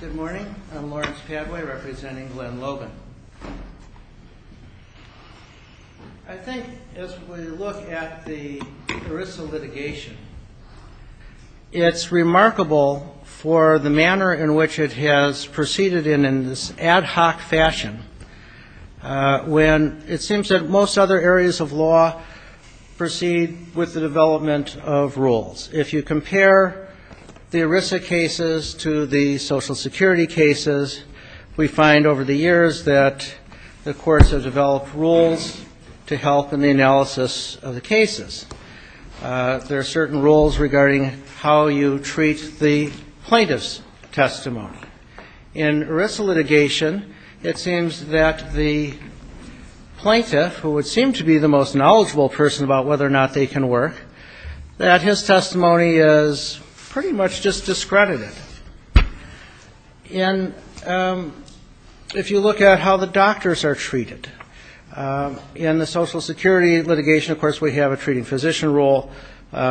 Good morning, I'm Lawrence Padway representing Glenn Logan. I think as we look at the ERISA litigation, it's remarkable for the manner in which it has proceeded in an ad hoc fashion when it seems that most other areas of law proceed with the development of rules. If you compare the ERISA cases to the Social Security cases, we find over the years that the courts have developed rules to help in the analysis of the cases. There are certain rules regarding how you treat the plaintiff's testimony. In ERISA litigation, it seems that the plaintiff, who would seem to be the most knowledgeable person about whether or not they can work, that his testimony is pretty much just discredited. And if you look at how the doctors are treated, in the Social Security litigation, of course, we have a treating physician rule,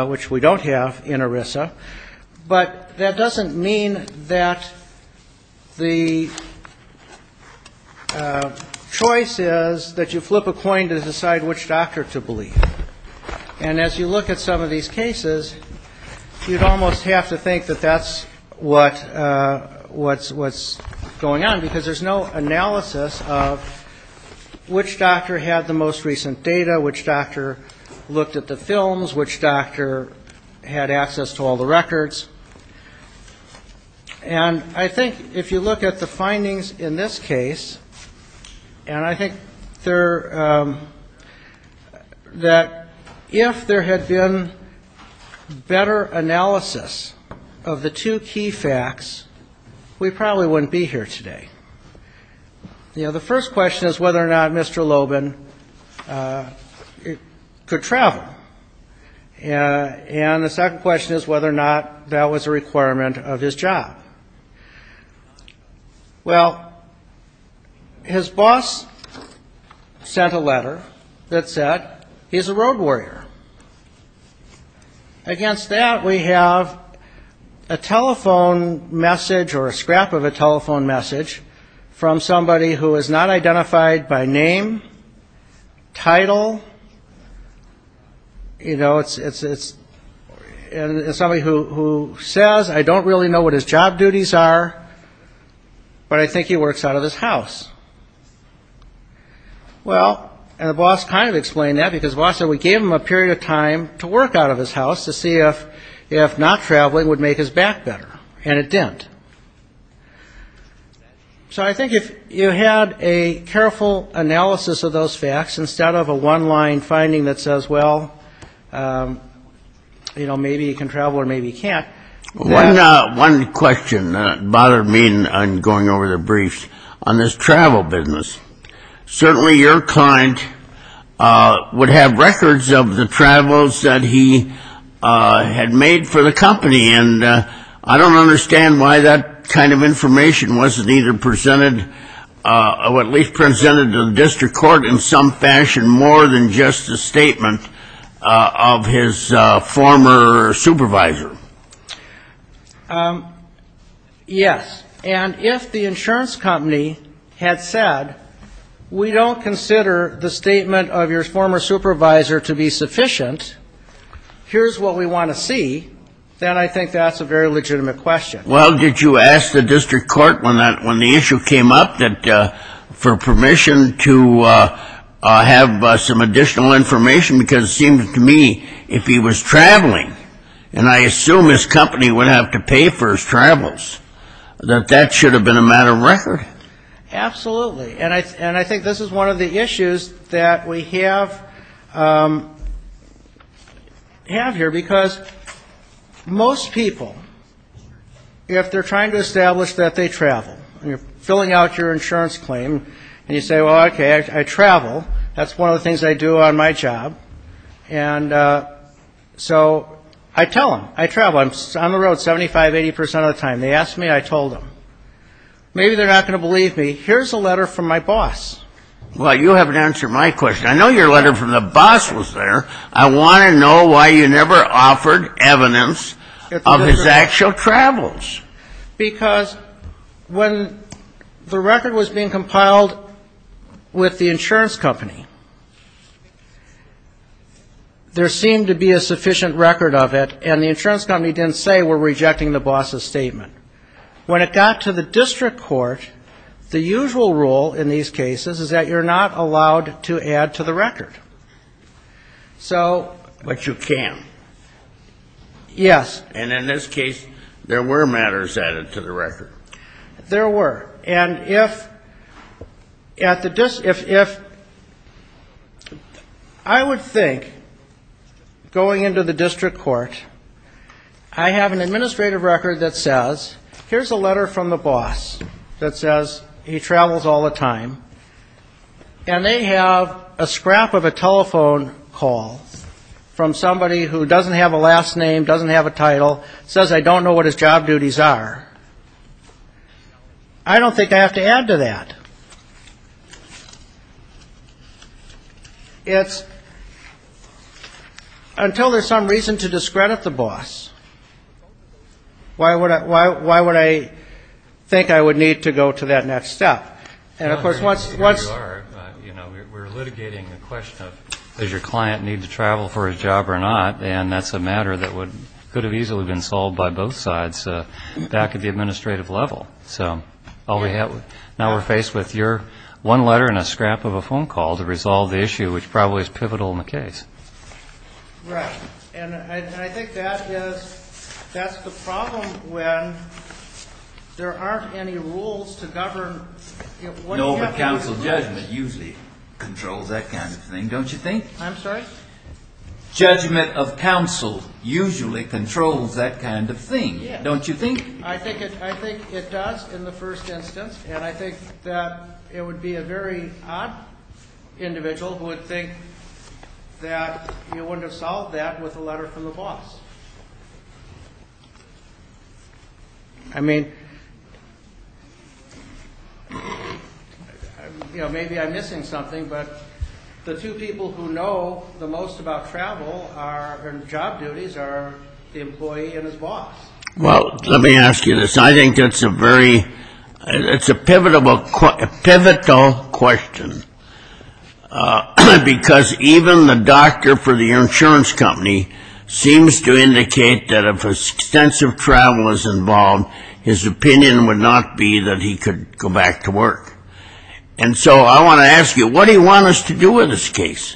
which we don't have in ERISA, but that doesn't mean that the choice is that you flip a coin to decide which doctor to believe. And as you look at some of these cases, you'd almost have to think that that's what's going on, because there's no analysis of which doctor had the most recent data, which doctor looked at the films, which doctor had access to all the records. And I think if you look at the findings in this case, and I think that if there had been better analysis of the two key facts, we probably wouldn't be here today. The first question is whether or not Mr. Lobin could travel. And the second question is whether or not that was a requirement of his job. Well, his boss sent a letter that said he's a road warrior. Against that, we have a telephone message, or a scrap of a telephone message, from somebody who is not identified by name, title, you know, it's somebody who says, I don't really know what his job duties are, but I think he works out of this house. Well, and the boss kind of explained that, because the boss said we gave him a period of time to work out of his house to see if not traveling would make his back better, and it didn't. So I think if you had a careful analysis of those facts, instead of a one-line finding that says, well, you know, maybe he can travel or maybe he can't. One question that bothered me in going over the briefs on this travel business. Certainly your client would have records of the travels that he had made for the company, and I don't understand why that kind of information wasn't either presented, or at least presented to the district court in some fashion, more than just a statement of his former supervisor. Yes. And if the insurance company had said, we don't consider the statement of your former supervisor to be sufficient, here's what we want to see, then I think that's a very legitimate question. Well, did you ask the district court when the issue came up for permission to have some additional information? Because it seemed to me if he was traveling, and I assume his company would have to pay for his travels, that that should have been a matter of record. Absolutely. And I think this is one of the issues that we have here, because most people, if they're trying to establish that they travel, and you're filling out your insurance claim, and you say, well, okay, I travel, that's one of the things I do on my job, and so I tell them, I travel. I'm on the road 75, 80% of the time. They ask me, I told them. Maybe they're not going to believe me. Here's a letter from my boss. Well, you haven't answered my question. I know your letter from the boss was there. I want to know why you never offered evidence of his actual travels. Because when the record was being compiled with the insurance company, there seemed to be a sufficient record of it, and the insurance company didn't say we're rejecting the boss's statement. When it got to the district court, the usual rule in these cases is that you're not allowed to add to the record. But you can. Yes. And in this case, there were matters added to the record. There were. And if at the district, if I would think going into the district court, I have an administrative record that says, here's a letter from the boss that says he travels all the time, and they have a scrap of a telephone call from somebody who doesn't have a last name, doesn't have a title, says I don't know what his job duties are. I don't think I have to add to that. It's until there's some reason to discredit the boss. Why would I think I would need to go to that next step? We're litigating the question of does your client need to travel for his job or not, and that's a matter that could have easily been solved by both sides. That's back at the administrative level. Now we're faced with your one letter and a scrap of a phone call to resolve the issue, which probably is pivotal in the case. Right. And I think that's the problem when there aren't any rules to govern. No, but counsel judgment usually controls that kind of thing, don't you think? I'm sorry? Judgment of counsel usually controls that kind of thing, don't you think? I think it does in the first instance, and I think that it would be a very odd individual who would think that you wouldn't have solved that with a letter from the boss. I mean, maybe I'm missing something, but the two people who know the most about travel and job duties are the employee and his boss. Well, let me ask you this. I think that's a very, it's a pivotal question, because even the doctor for the insurance company seems to indicate that if extensive travel is involved, his opinion would not be that he could go back to work. And so I want to ask you, what do you want us to do with this case?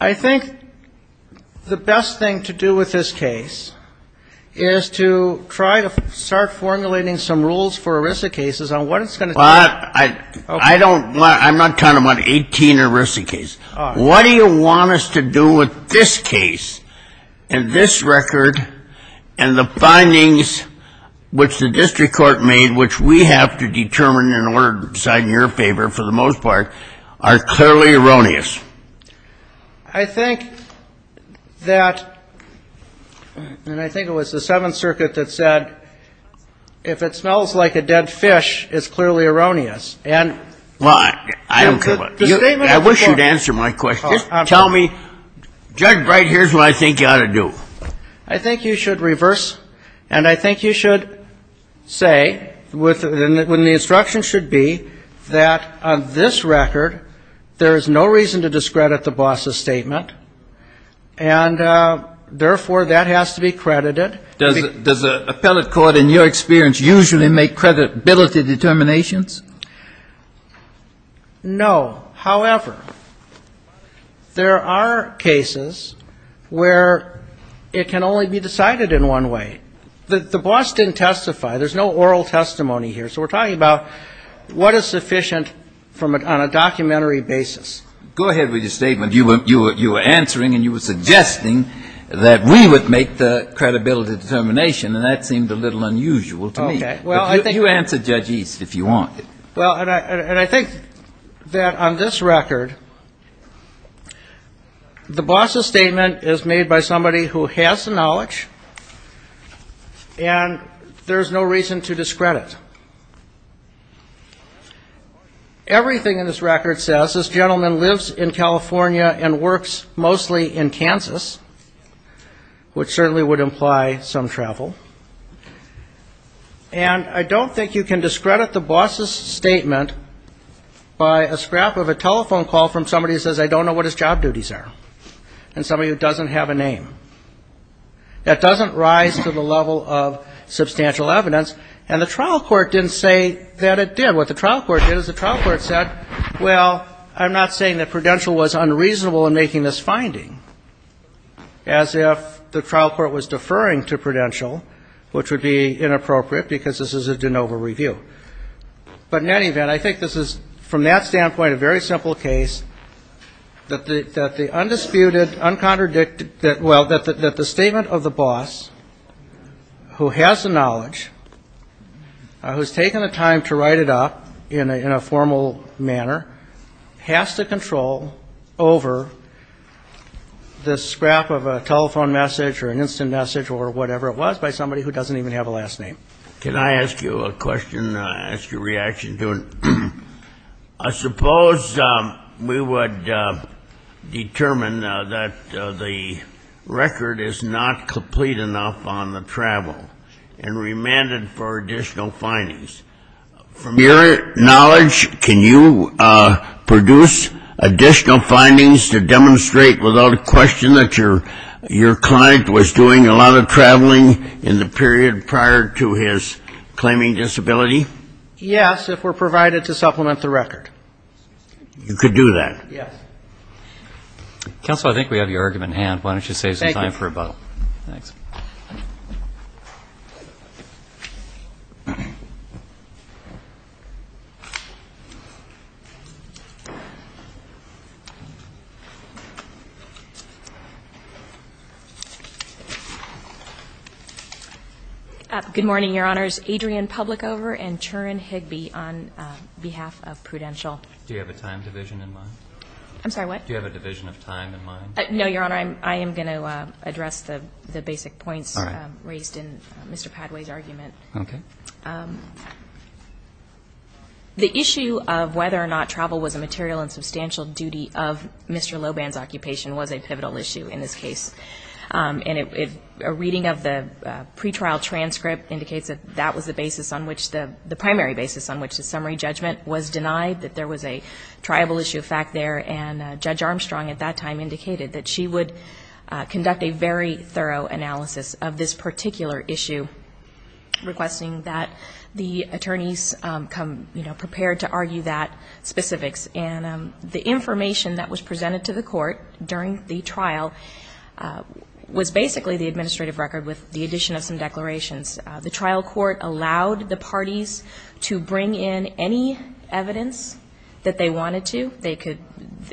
I think the best thing to do with this case is to try to start formulating some rules for ERISA cases on what it's going to take. Well, I don't want, I'm not talking about an 18 ERISA case. What do you want us to do with this case and this record and the findings which the district court made, which we have to determine in order to decide in your favor, for the most part, are clearly not going to work. It's clearly erroneous. I think that, and I think it was the Seventh Circuit that said, if it smells like a dead fish, it's clearly erroneous. Well, I wish you'd answer my question. Tell me, Judge Breit, here's what I think you ought to do. I think you should reverse, and I think you should say, and the instruction should be, that on this record, there is not going to work. There's no reason to discredit the boss's statement, and therefore, that has to be credited. Does an appellate court, in your experience, usually make credibility determinations? No. However, there are cases where it can only be decided in one way. The boss didn't testify. There's no oral testimony here, so we're talking about what is sufficient on a documentary basis. Go ahead with your statement. You were answering and you were suggesting that we would make the credibility determination, and that seemed a little unusual to me. Okay. Well, and I think that on this record, the boss's statement is made by somebody who has the knowledge, and there's no reason to discredit. Everything in this record says this gentleman lives in California and works mostly in Kansas, which certainly would imply some travel, and I don't think you can discredit the boss's statement by a scrap of a telephone call from somebody who says, I don't know what his job duties are, and somebody who doesn't have a name. That doesn't rise to the level of substantial evidence, and the trial court didn't say that it did. What the trial court did is the trial court said, well, I'm not saying that Prudential was unreasonable in making this finding, as if the trial court was deferring to Prudential, which would be inappropriate, because this is a de novo review. But in any event, I think this is, from that standpoint, a very simple case that the undisputed, uncontradicted, well, that the statement of the boss, who has the knowledge, who's taken the time to write it up in a formal manner, has to control over the scrap of a telephone message or an instant message or whatever it was by somebody who doesn't even have a last name. Can I ask you a question, ask your reaction to it? I suppose we would determine that the record is not complete enough on the travel, and remand it for additional findings. From your knowledge, can you produce additional findings to demonstrate without question that your client was doing a lot of traveling in the period prior to his claiming disability? Yes, if we're provided to supplement the record. You could do that. Counsel, I think we have your argument in hand. Why don't you save some time for a vote? Good morning, Your Honors. Adrian Publicover and Turin Higbee on behalf of Prudential. Do you have a time division in mind? I'm sorry, what? Do you have a division of time in mind? No, Your Honor. I am going to address the basic points raised in Mr. Padway's argument. Okay. The issue of whether or not travel was a material and substantial duty of Mr. Loban's occupation was a pivotal issue in this case. And a reading of the pretrial transcript indicates that that was the basis on which the primary basis on which the summary judgment was denied, that there was a triable issue of fact there, and Judge Armstrong at that time indicated that she would conduct a very thorough analysis of this particular issue, requesting that the attorneys come prepared to argue that specifics. And the information that was presented to the court during the trial was basically the administrative record with the addition of some declarations. The trial court allowed the parties to bring in any evidence that they wanted to.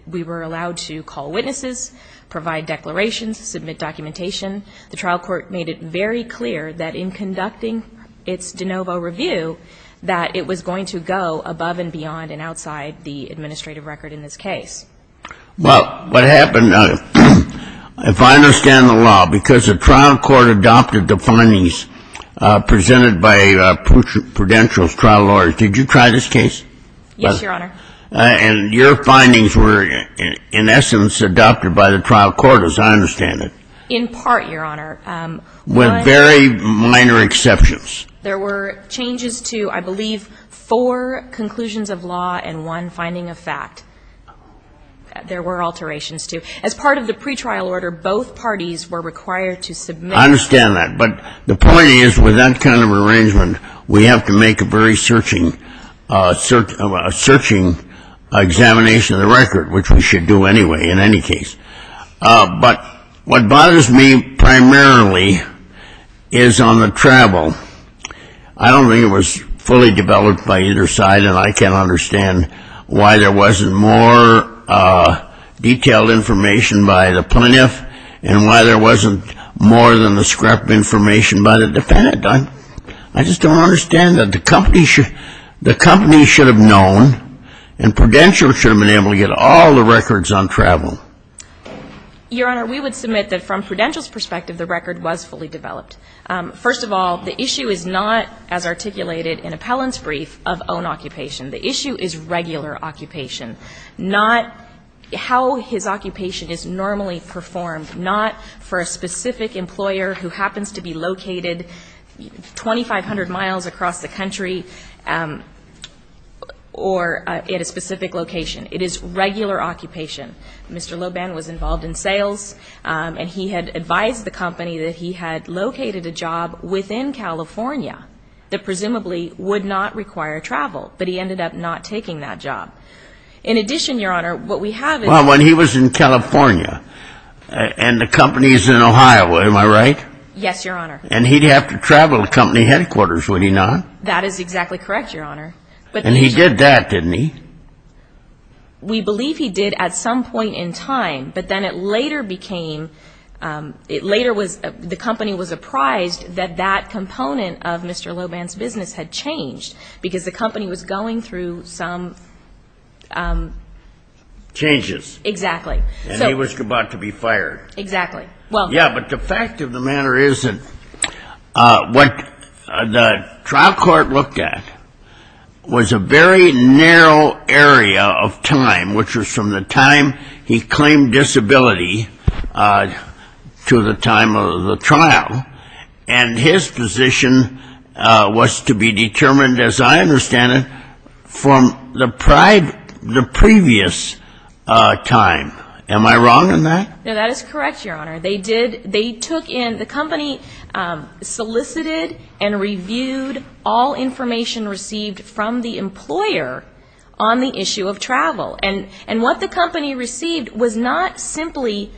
We were allowed to call witnesses, provide declarations, submit documentation. The trial court made it very clear that in conducting its de novo review that it was going to go above and beyond and outside the administrative record in this case. Well, what happened, if I understand the law, because the trial court adopted the findings presented by Prudential's trial lawyers. Did you try this case? Yes, Your Honor. And your findings were, in essence, adopted by the trial court, as I understand it. In part, Your Honor. With very minor exceptions. There were changes to, I believe, four conclusions of law and one finding of fact. There were alterations, too. As part of the pretrial order, both parties were required to submit. I understand that. But the point is, with that kind of arrangement, we have to make a very searching examination of the record, which we should do anyway, in any case. But what bothers me primarily is on the travel. I don't think it was fully developed by either side, and I can't understand why there wasn't more detailed information by the plaintiff and why there wasn't more than the scrap information by the defendant. I just don't understand that the company should have known, and Prudential should have been able to get all the records on travel. Your Honor, we would submit that from Prudential's perspective, the record was fully developed. First of all, the issue is not, as articulated in Appellant's brief, of own occupation. The issue is regular occupation, not how his occupation is normally performed, not for a specific employer who happens to be located 2,500 miles across the country or at a specific location. It is regular occupation. Mr. Loban was involved in sales, and he had advised the company that he had located a job within California that presumably would not require travel, but he ended up not taking that job. In addition, Your Honor, what we have is that he was in California, and the company is in Ohio, am I right? Yes, Your Honor. And he'd have to travel to company headquarters, would he not? That is exactly correct, Your Honor. And he did that, didn't he? We believe he did at some point in time, but then it later became, it later was, the company was apprised that that component of Mr. Loban's business had changed, because the company was going through some changes. Exactly. And he was about to be fired. Exactly. Yeah, but the fact of the matter is that what the trial court looked at was a very narrow area of time, which was from the time he claimed disability to the time of the trial, and his position was to be determined, as I understand it, from the previous time. Am I wrong on that? No, that is correct, Your Honor. They took in, the company solicited and reviewed all information received from the employer on the issue of travel. And what the company received was not simply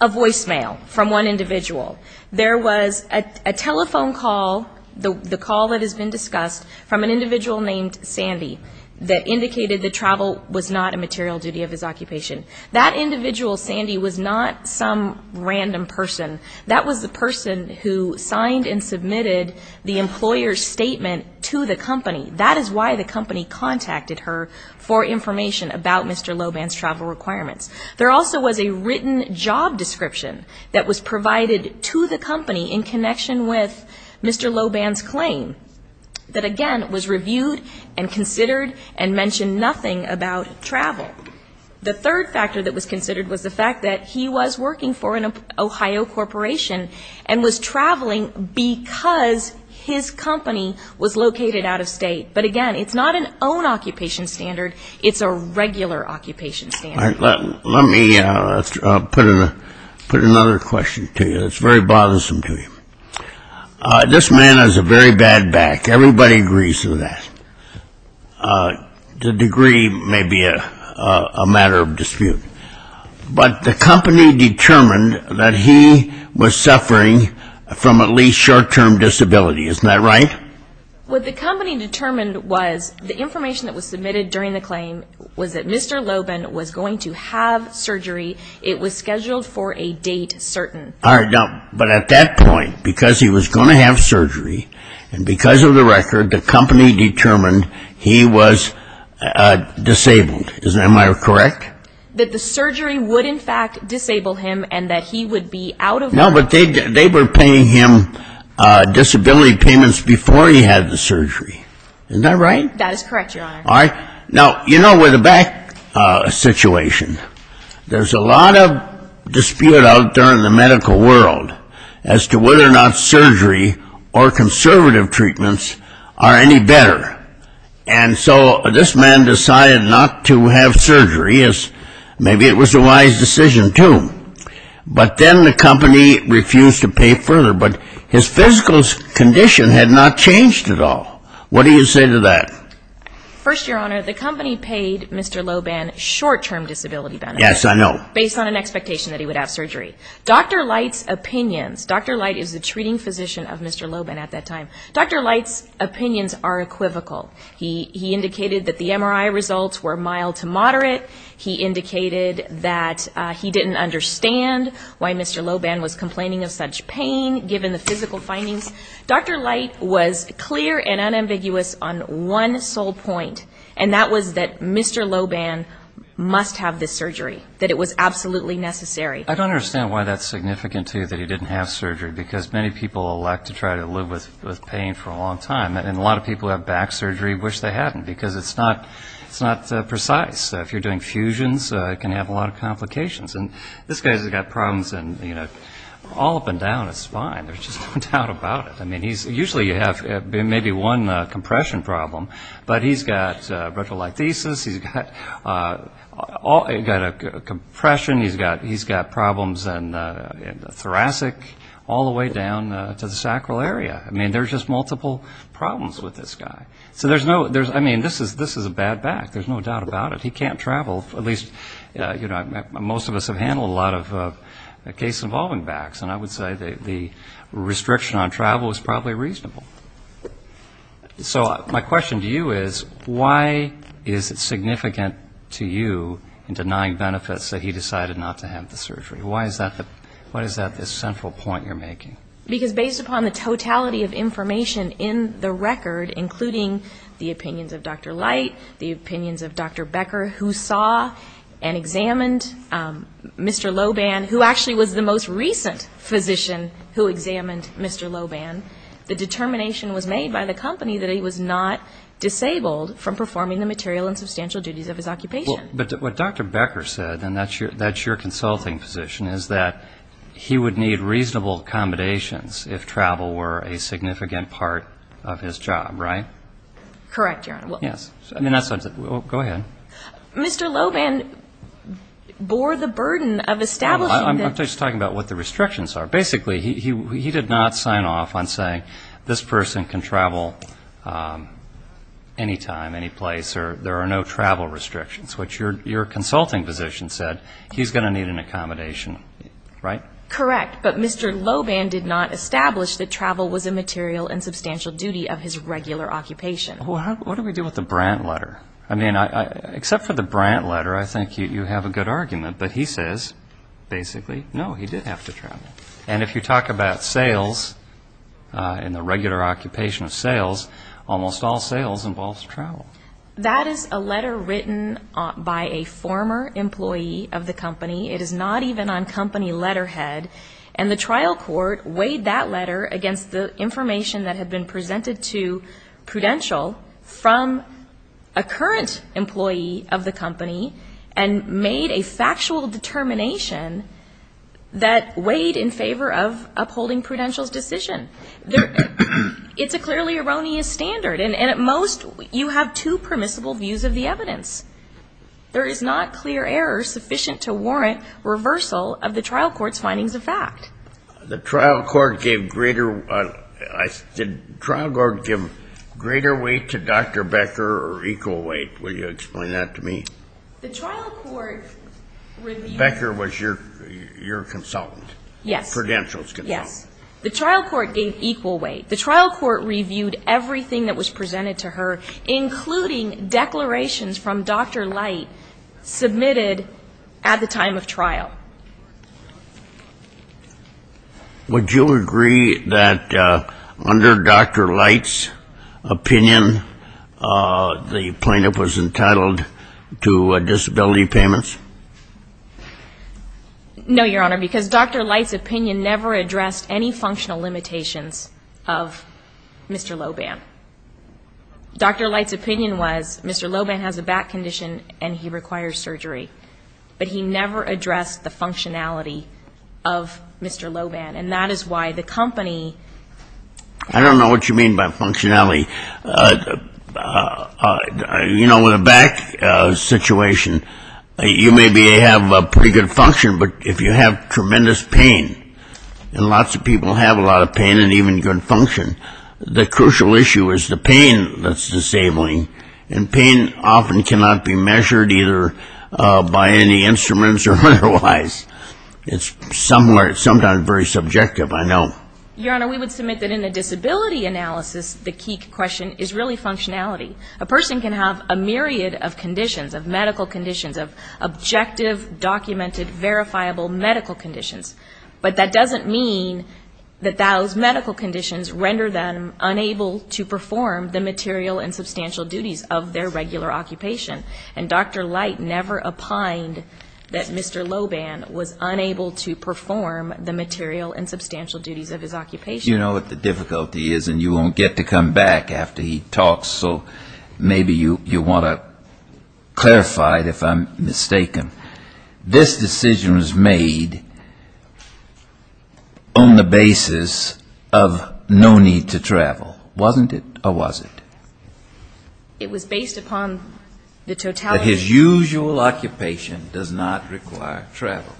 a voicemail from one individual. There was a telephone call, the call that has been discussed, from an individual named Sandy, that indicated that travel was not a material duty of his occupation. That individual, Sandy, was not some random person. That was the person who signed and submitted the employer's statement to the company. That is why the company contacted her for information about Mr. Loban's travel requirements. There also was a written job description that was provided to the company in connection with Mr. Loban's claim, that again was reviewed and considered and mentioned nothing about travel. The third factor that was considered was the fact that he was working for an Ohio corporation and was traveling because his company was located out of state. But again, it's not an own occupation standard, it's a regular occupation standard. Let me put another question to you that's very bothersome to you. This man has a very bad back. I think everybody agrees with that. The degree may be a matter of dispute. But the company determined that he was suffering from at least short-term disability. Isn't that right? What the company determined was the information that was submitted during the claim was that Mr. Loban was going to have surgery. It was scheduled for a date certain. But at that point, because he was going to have surgery, and because of the record, the company determined he was disabled. Am I correct? No, but they were paying him disability payments before he had the surgery. Isn't that right? That is correct, Your Honor. Now, you know, with a back situation, there's a lot of dispute out there in the medical world as to whether or not surgery or conservative treatments are any better. And so this man decided not to have surgery. Maybe it was a wise decision, too. But then the company refused to pay further. But his physical condition had not changed at all. What do you say to that? First, Your Honor, the company paid Mr. Loban short-term disability benefits based on an expectation that he would have surgery. Dr. Light's opinions, Dr. Light is the treating physician of Mr. Loban at that time. Dr. Light's opinions are equivocal. He indicated that the MRI results were mild to moderate. He indicated that he didn't understand why Mr. Loban was complaining of such pain, given the physical findings. Dr. Light was clear and unambiguous on one sole point, and that was that Mr. Loban must have this surgery, that it was absolutely necessary. I don't understand why that's significant, too, that he didn't have surgery, because many people elect to try to live with pain for a long time. And a lot of people who have back surgery wish they hadn't, because it's not precise. If you're doing fusions, it can have a lot of complications. And this guy's got problems all up and down his spine. There's just no doubt about it. Usually you have maybe one compression problem, but he's got retrolithesis, he's got compression, he's got problems in the thoracic, all the way down to the sacral area. I mean, there's just multiple problems with this guy. I mean, this is a bad back. There's no doubt about it. He can't travel, at least, you know, most of us have handled a lot of cases involving backs, and I would say the restriction on travel is probably reasonable. So my question to you is, why is it significant to you in denying benefits that he decided not to have the surgery? Why is that the central point you're making? Because based upon the totality of information in the record, including the opinions of Dr. Light, the opinions of Dr. Becker, who saw and examined Mr. Loban, who actually was the most recent physician who examined Mr. Loban, the determination was made by the company that he was not disabled from performing the material and substantial duties of his occupation. But what Dr. Becker said, and that's your consulting position, is that he would need reasonable accommodations if travel were a significant part of his job, right? Correct, Your Honor. Mr. Loban bore the burden of establishing that... I'm just talking about what the restrictions are. Basically, he did not sign off on saying this person can travel any time, any place, or there are no travel restrictions, which your consulting position said he's going to need an accommodation, right? Correct, but Mr. Loban did not establish that travel was a material and substantial duty of his regular occupation. What do we do with the Brandt letter? I mean, except for the Brandt letter, I think you have a good argument. But he says, basically, no, he did have to travel. And if you talk about sales and the regular occupation of sales, almost all sales involves travel. That is a letter written by a former employee of the company. It is not even on company letterhead. And the trial court weighed that letter against the information that had been presented to Prudential from a current employee of the company and made a factual determination that weighed in favor of upholding Prudential's decision. It's a clearly erroneous standard, and at most you have two permissible views of the evidence. There is not clear error sufficient to warrant reversal of the trial court's findings of fact. The trial court gave greater weight to Dr. Becker or equal weight. Will you explain that to me? Becker was your consultant. Prudential's consultant. Yes. The trial court gave equal weight. The trial court reviewed everything that was presented to her, including declarations from Dr. Light submitted at the time of trial. Would you agree that under Dr. Light's opinion, the plaintiff was entitled to disability payments? No, Your Honor, because Dr. Light's opinion never addressed any functional limitations of Mr. Loban. Dr. Light's opinion was Mr. Loban has a back condition and he requires surgery. But he never addressed the functionality of Mr. Loban, and that is why the company ---- I don't know what you mean by functionality. You know, with a back situation, you may have pretty good function, but if you have tremendous pain, and lots of people have a lot of pain and even good function, the crucial issue is the pain that's disabling, and pain often cannot be measured either by any instruments or otherwise. It's sometimes very subjective, I know. Your Honor, we would submit that in a disability analysis, the key question is really functionality. A person can have a myriad of conditions, of medical conditions, of objective, documented, verifiable medical conditions, but that doesn't mean that those medical conditions render them unable to perform the material and substantial duties of their regular occupation. And Dr. Light never opined that Mr. Loban was unable to perform the material and substantial duties of his regular occupation. You know what the difficulty is, and you won't get to come back after he talks, so maybe you want to clarify it if I'm mistaken. This decision was made on the basis of no need to travel, wasn't it, or was it? It was based upon the totality ---- That his usual occupation does not require travel.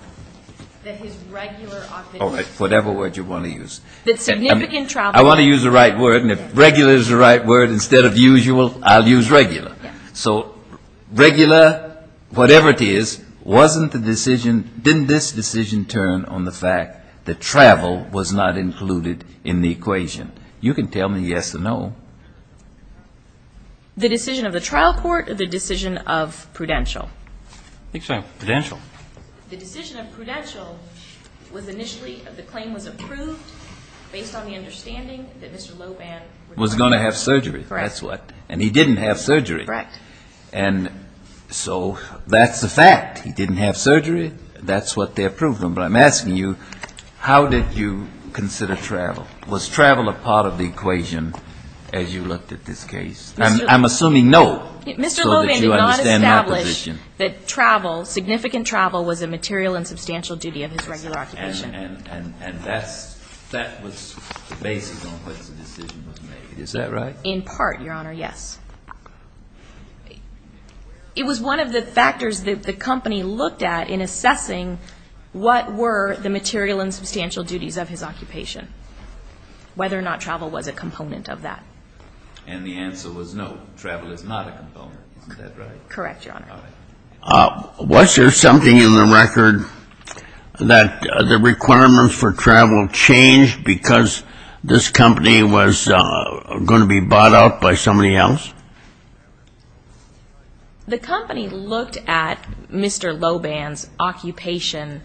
That his regular occupation ---- I want to use the right word, and if regular is the right word instead of usual, I'll use regular. So regular, whatever it is, wasn't the decision, didn't this decision turn on the fact that travel was not included in the equation? You can tell me yes or no. The decision of the trial court or the decision of Prudential? The decision of Prudential was initially, the claim was approved based on the understanding that Mr. Loban ---- Was going to have surgery, that's what, and he didn't have surgery. And so that's the fact, he didn't have surgery, that's what they approved him. But I'm asking you, how did you consider travel? Was travel a part of the equation as you looked at this case? I'm assuming no, so that you understand my position. That travel, significant travel was a material and substantial duty of his regular occupation. And that was the basis on which the decision was made, is that right? In part, Your Honor, yes. It was one of the factors that the company looked at in assessing what were the material and substantial duties of his occupation, whether or not travel was a component of that. And the answer was no, travel is not a component, is that right? Correct, Your Honor. Was there something in the record that the requirements for travel changed because this company was going to be bought out by somebody else? The company looked at Mr. Loban's occupation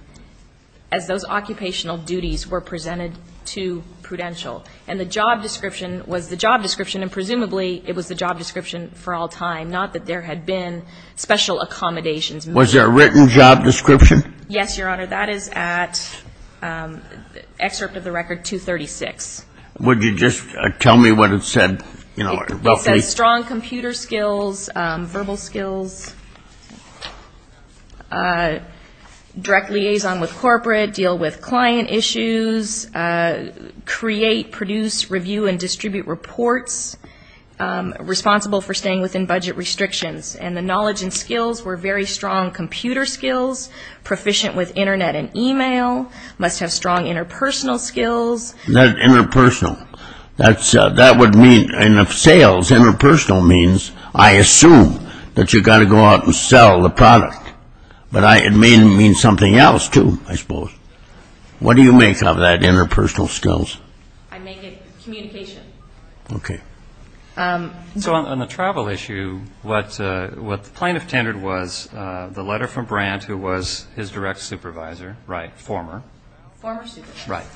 as those occupational duties were presented to Prudential. And the job description was the job description, and presumably it was the job description for all time. Not that there had been special accommodations. Was there a written job description? Yes, Your Honor, that is at excerpt of the record 236. Would you just tell me what it said, you know, roughly? It says strong computer skills, verbal skills, direct liaison with corporate, deal with client issues, create, produce, review and distribute reports, responsible for staying within budget restrictions. And the knowledge and skills were very strong computer skills, proficient with Internet and e-mail, must have strong interpersonal skills. Interpersonal. That would mean, in sales, interpersonal means I assume that you've got to go out and sell the product. But it may mean something else, too, I suppose. What do you make of that interpersonal skills? I make it communication. Okay. So on the travel issue, what the plaintiff tendered was the letter from Brandt, who was his direct supervisor, right, former. Former supervisor. Right.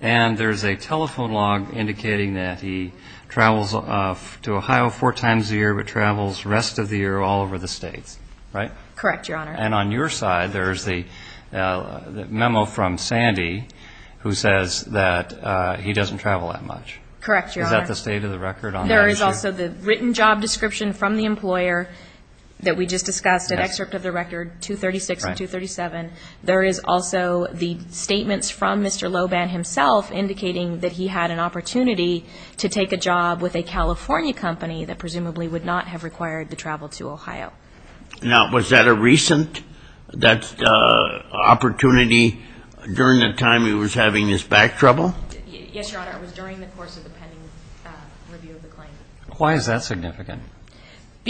And there's a telephone log indicating that he travels to Ohio four times a year but travels the rest of the year all over the States, right? Correct, Your Honor. And on your side, there's the memo from Sandy who says that he doesn't travel that much. Correct, Your Honor. Is that the state of the record on that issue? There is also the written job description from the employer that we just discussed, an excerpt of the record, 236 and 237. There is also the statements from Mr. Loban himself indicating that he had an opportunity to take a job with a California company that presumably would not have required the travel to Ohio. Now, was that a recent opportunity during the time he was having his back trouble? Yes, Your Honor. It was during the course of the pending review of the claim. Why is that significant?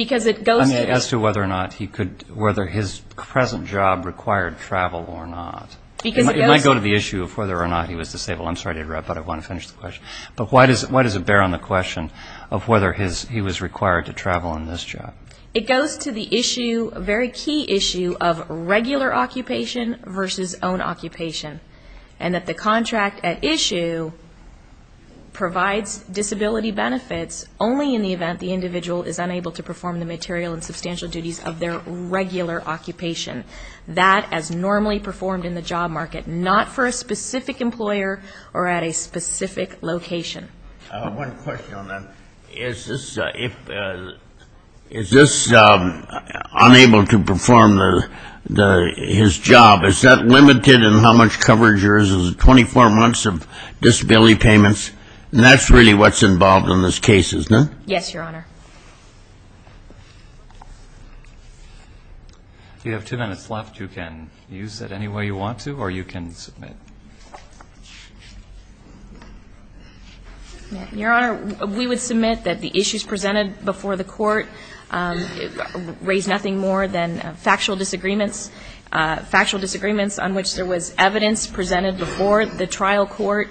I mean, as to whether or not he could, whether his present job required travel or not. It might go to the issue of whether or not he was disabled. I'm sorry to interrupt, but I want to finish the question. But why does it bear on the question of whether he was required to travel on this job? It goes to the issue, very key issue, of regular occupation versus own occupation. And that the contract at issue provides disability benefits only in the event the individual is unable to perform the material and substantial duties of their regular occupation. That as normally performed in the job market, not for a specific employer or at a specific location. One question on that. Is this unable to perform his job? Is that limited in how much coverage there is? Is it 24 months of disability payments? And that's really what's involved in this case, isn't it? Yes, Your Honor. If you have two minutes left, you can use it any way you want to, or you can submit. Your Honor, we would submit that the issues presented before the court raise nothing more than factual disagreements. Factual disagreements on which there was evidence presented before the trial court.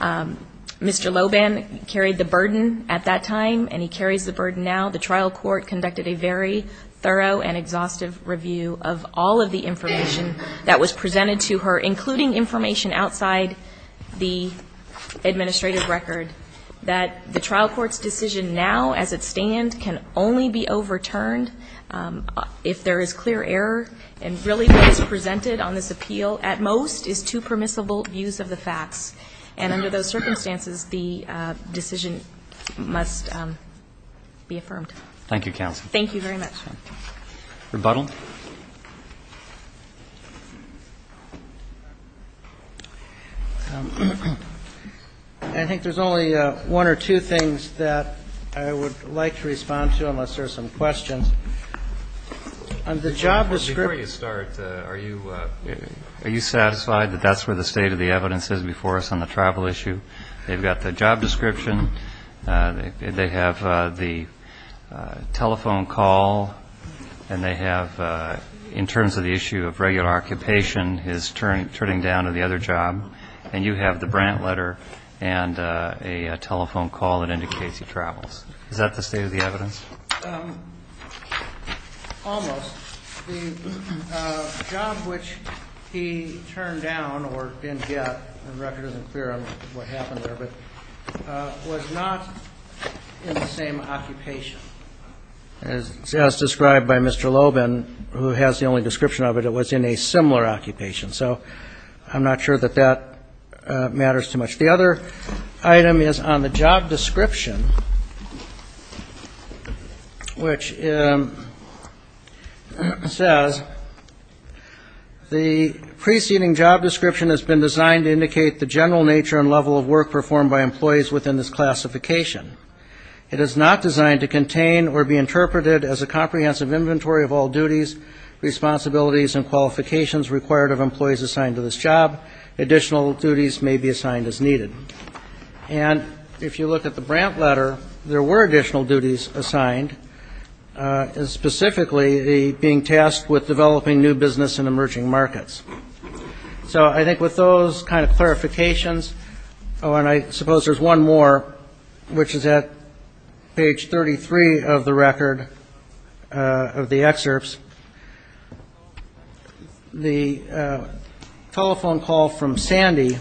Mr. Loban carried the burden at that time, and he carries the burden now. The trial court conducted a very thorough and exhaustive review of all of the information that was presented to her, including information outside the administrative record, that the trial court's decision now as it stands can only be overturned if there is clear error. And really what is presented on this appeal at most is two permissible views of the facts. And under those circumstances, the decision must be affirmed. Thank you, counsel. Thank you very much. Rebuttal. I think there's only one or two things that I would like to respond to, unless there are some questions. The job description. Before you start, are you satisfied that that's where the state of the evidence is before us on the travel issue? They've got the job description. They have the telephone call, and they have, in terms of the issue of regular occupation, his turning down of the other job. And you have the Brant letter and a telephone call that indicates he travels. Is that the state of the evidence? Almost. The job which he turned down or didn't get, the record isn't clear on what happened there, but was not in the same occupation. As described by Mr. Lobin, who has the only description of it, it was in a similar occupation. So I'm not sure that that matters too much. The other item is on the job description, which says, the preceding job description has been designed to indicate the general nature and level of work performed by employees within this classification. It is not designed to contain or be interpreted as a comprehensive inventory of all duties, responsibilities, and qualifications required of employees. And if you look at the Brant letter, there were additional duties assigned, specifically the being tasked with developing new business and emerging markets. So I think with those kind of clarifications, oh, and I suppose there's one more, which is at page 33 of the record of the excerpts. The telephone call from Sandy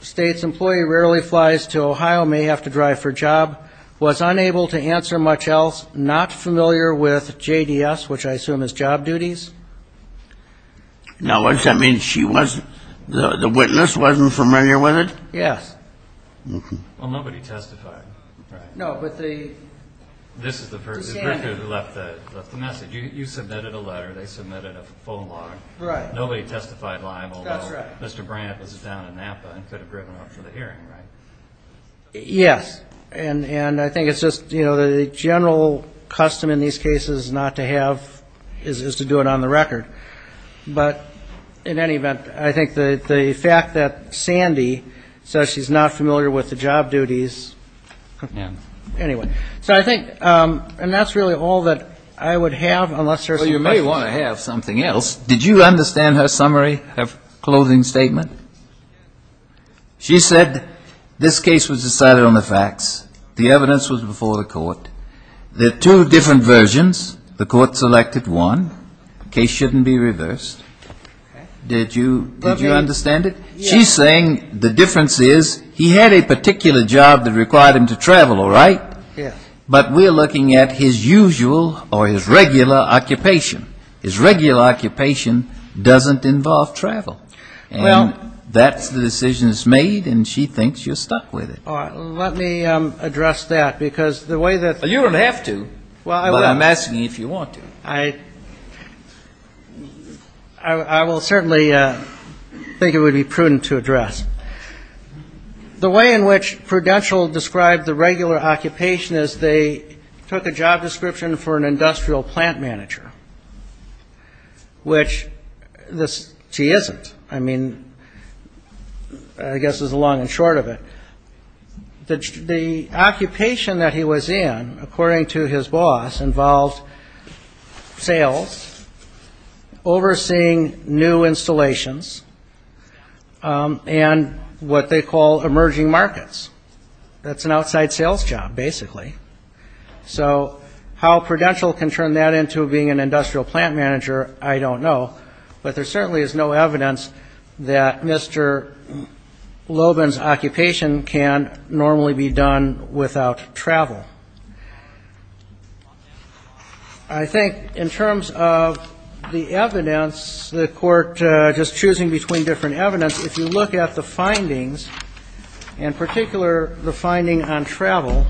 states, employee rarely flies to Ohio, may have to drive for job, was unable to answer much else, not familiar with JDS, which I assume is job duties. Now, does that mean the witness wasn't familiar with it? Yes. Well, nobody testified, right? No, but the... This is the person who left the message. You submitted a letter, they submitted a phone log. Nobody testified live, although Mr. Brant was down in Napa and could have driven up for the hearing, right? Yes, and I think it's just the general custom in these cases not to have, is to do it on the record. But in any event, I think the fact that Sandy says she's not familiar with the job duties, anyway. So I think, and that's really all that I would have, unless there's... I want to have something else. Did you understand her summary of clothing statement? She said this case was decided on the facts, the evidence was before the court, there are two different versions, the court selected one, the case shouldn't be reversed. Did you understand it? She's saying the difference is he had a particular job that required him to travel, all right? But we're looking at his usual or his regular occupation. His regular occupation doesn't involve travel. And that's the decision that's made, and she thinks you're stuck with it. Let me address that, because the way that... You don't have to, but I'm asking if you want to. I will certainly think it would be prudent to address. The way in which Prudential described the regular occupation is they took a job description for an industrial plant manager. Which she isn't. I mean, I guess there's a long and short of it. The occupation that he was in, according to his boss, involved sales, overseeing new installations, and what they call emerging markets. That's an outside sales job, basically. So how Prudential can turn that into being an industrial plant manager, I don't know. But there certainly is no evidence that Mr. Loban's occupation can normally be done without travel. I think in terms of the evidence, the Court just choosing between different evidence, if you look at the findings, in particular the finding on travel...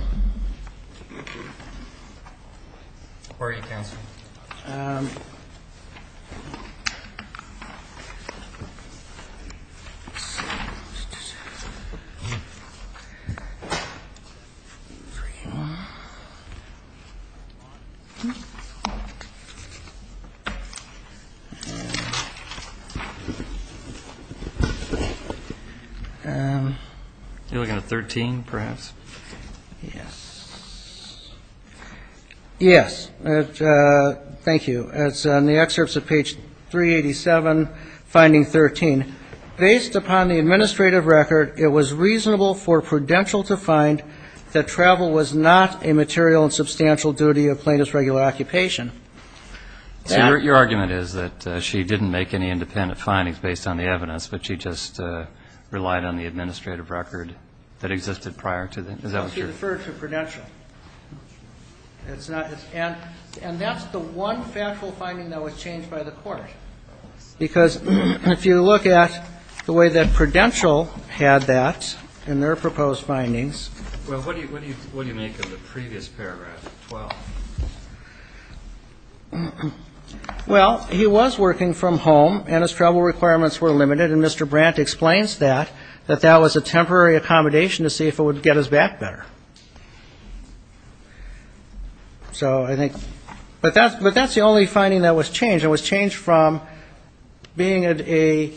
Let's see. You're looking at 13, perhaps? Yes. Thank you. It's in the excerpts of page 387, finding 13. Your argument is that she didn't make any independent findings based on the evidence, but she just relied on the administrative record that existed prior to that. She referred to Prudential. And that's the one factual finding that was changed by the Court. Because if you look at the way that Prudential had that in their proposed findings... Well, what do you make of the previous paragraph, 12? Well, he was working from home, and his travel requirements were limited, and Mr. Brandt explains that, that that was a temporary accommodation to see if it would get his back into business. And that's the only finding that was changed. It was changed from being a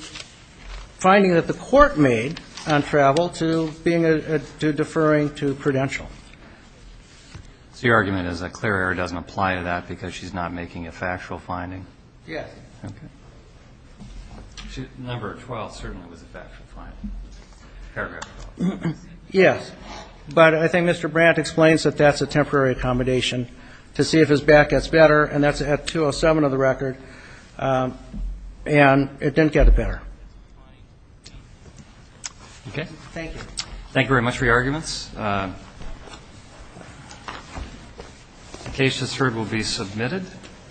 finding that the Court made on travel to deferring to Prudential. So your argument is that clear error doesn't apply to that because she's not making a factual finding? Yes. Number 12 certainly was a factual finding. Paragraph 12. Yes. But I think Mr. Brandt explains that that's a temporary accommodation to see if his back gets better, and that's at 207 of the record, and it didn't get it better. Okay. Thank you.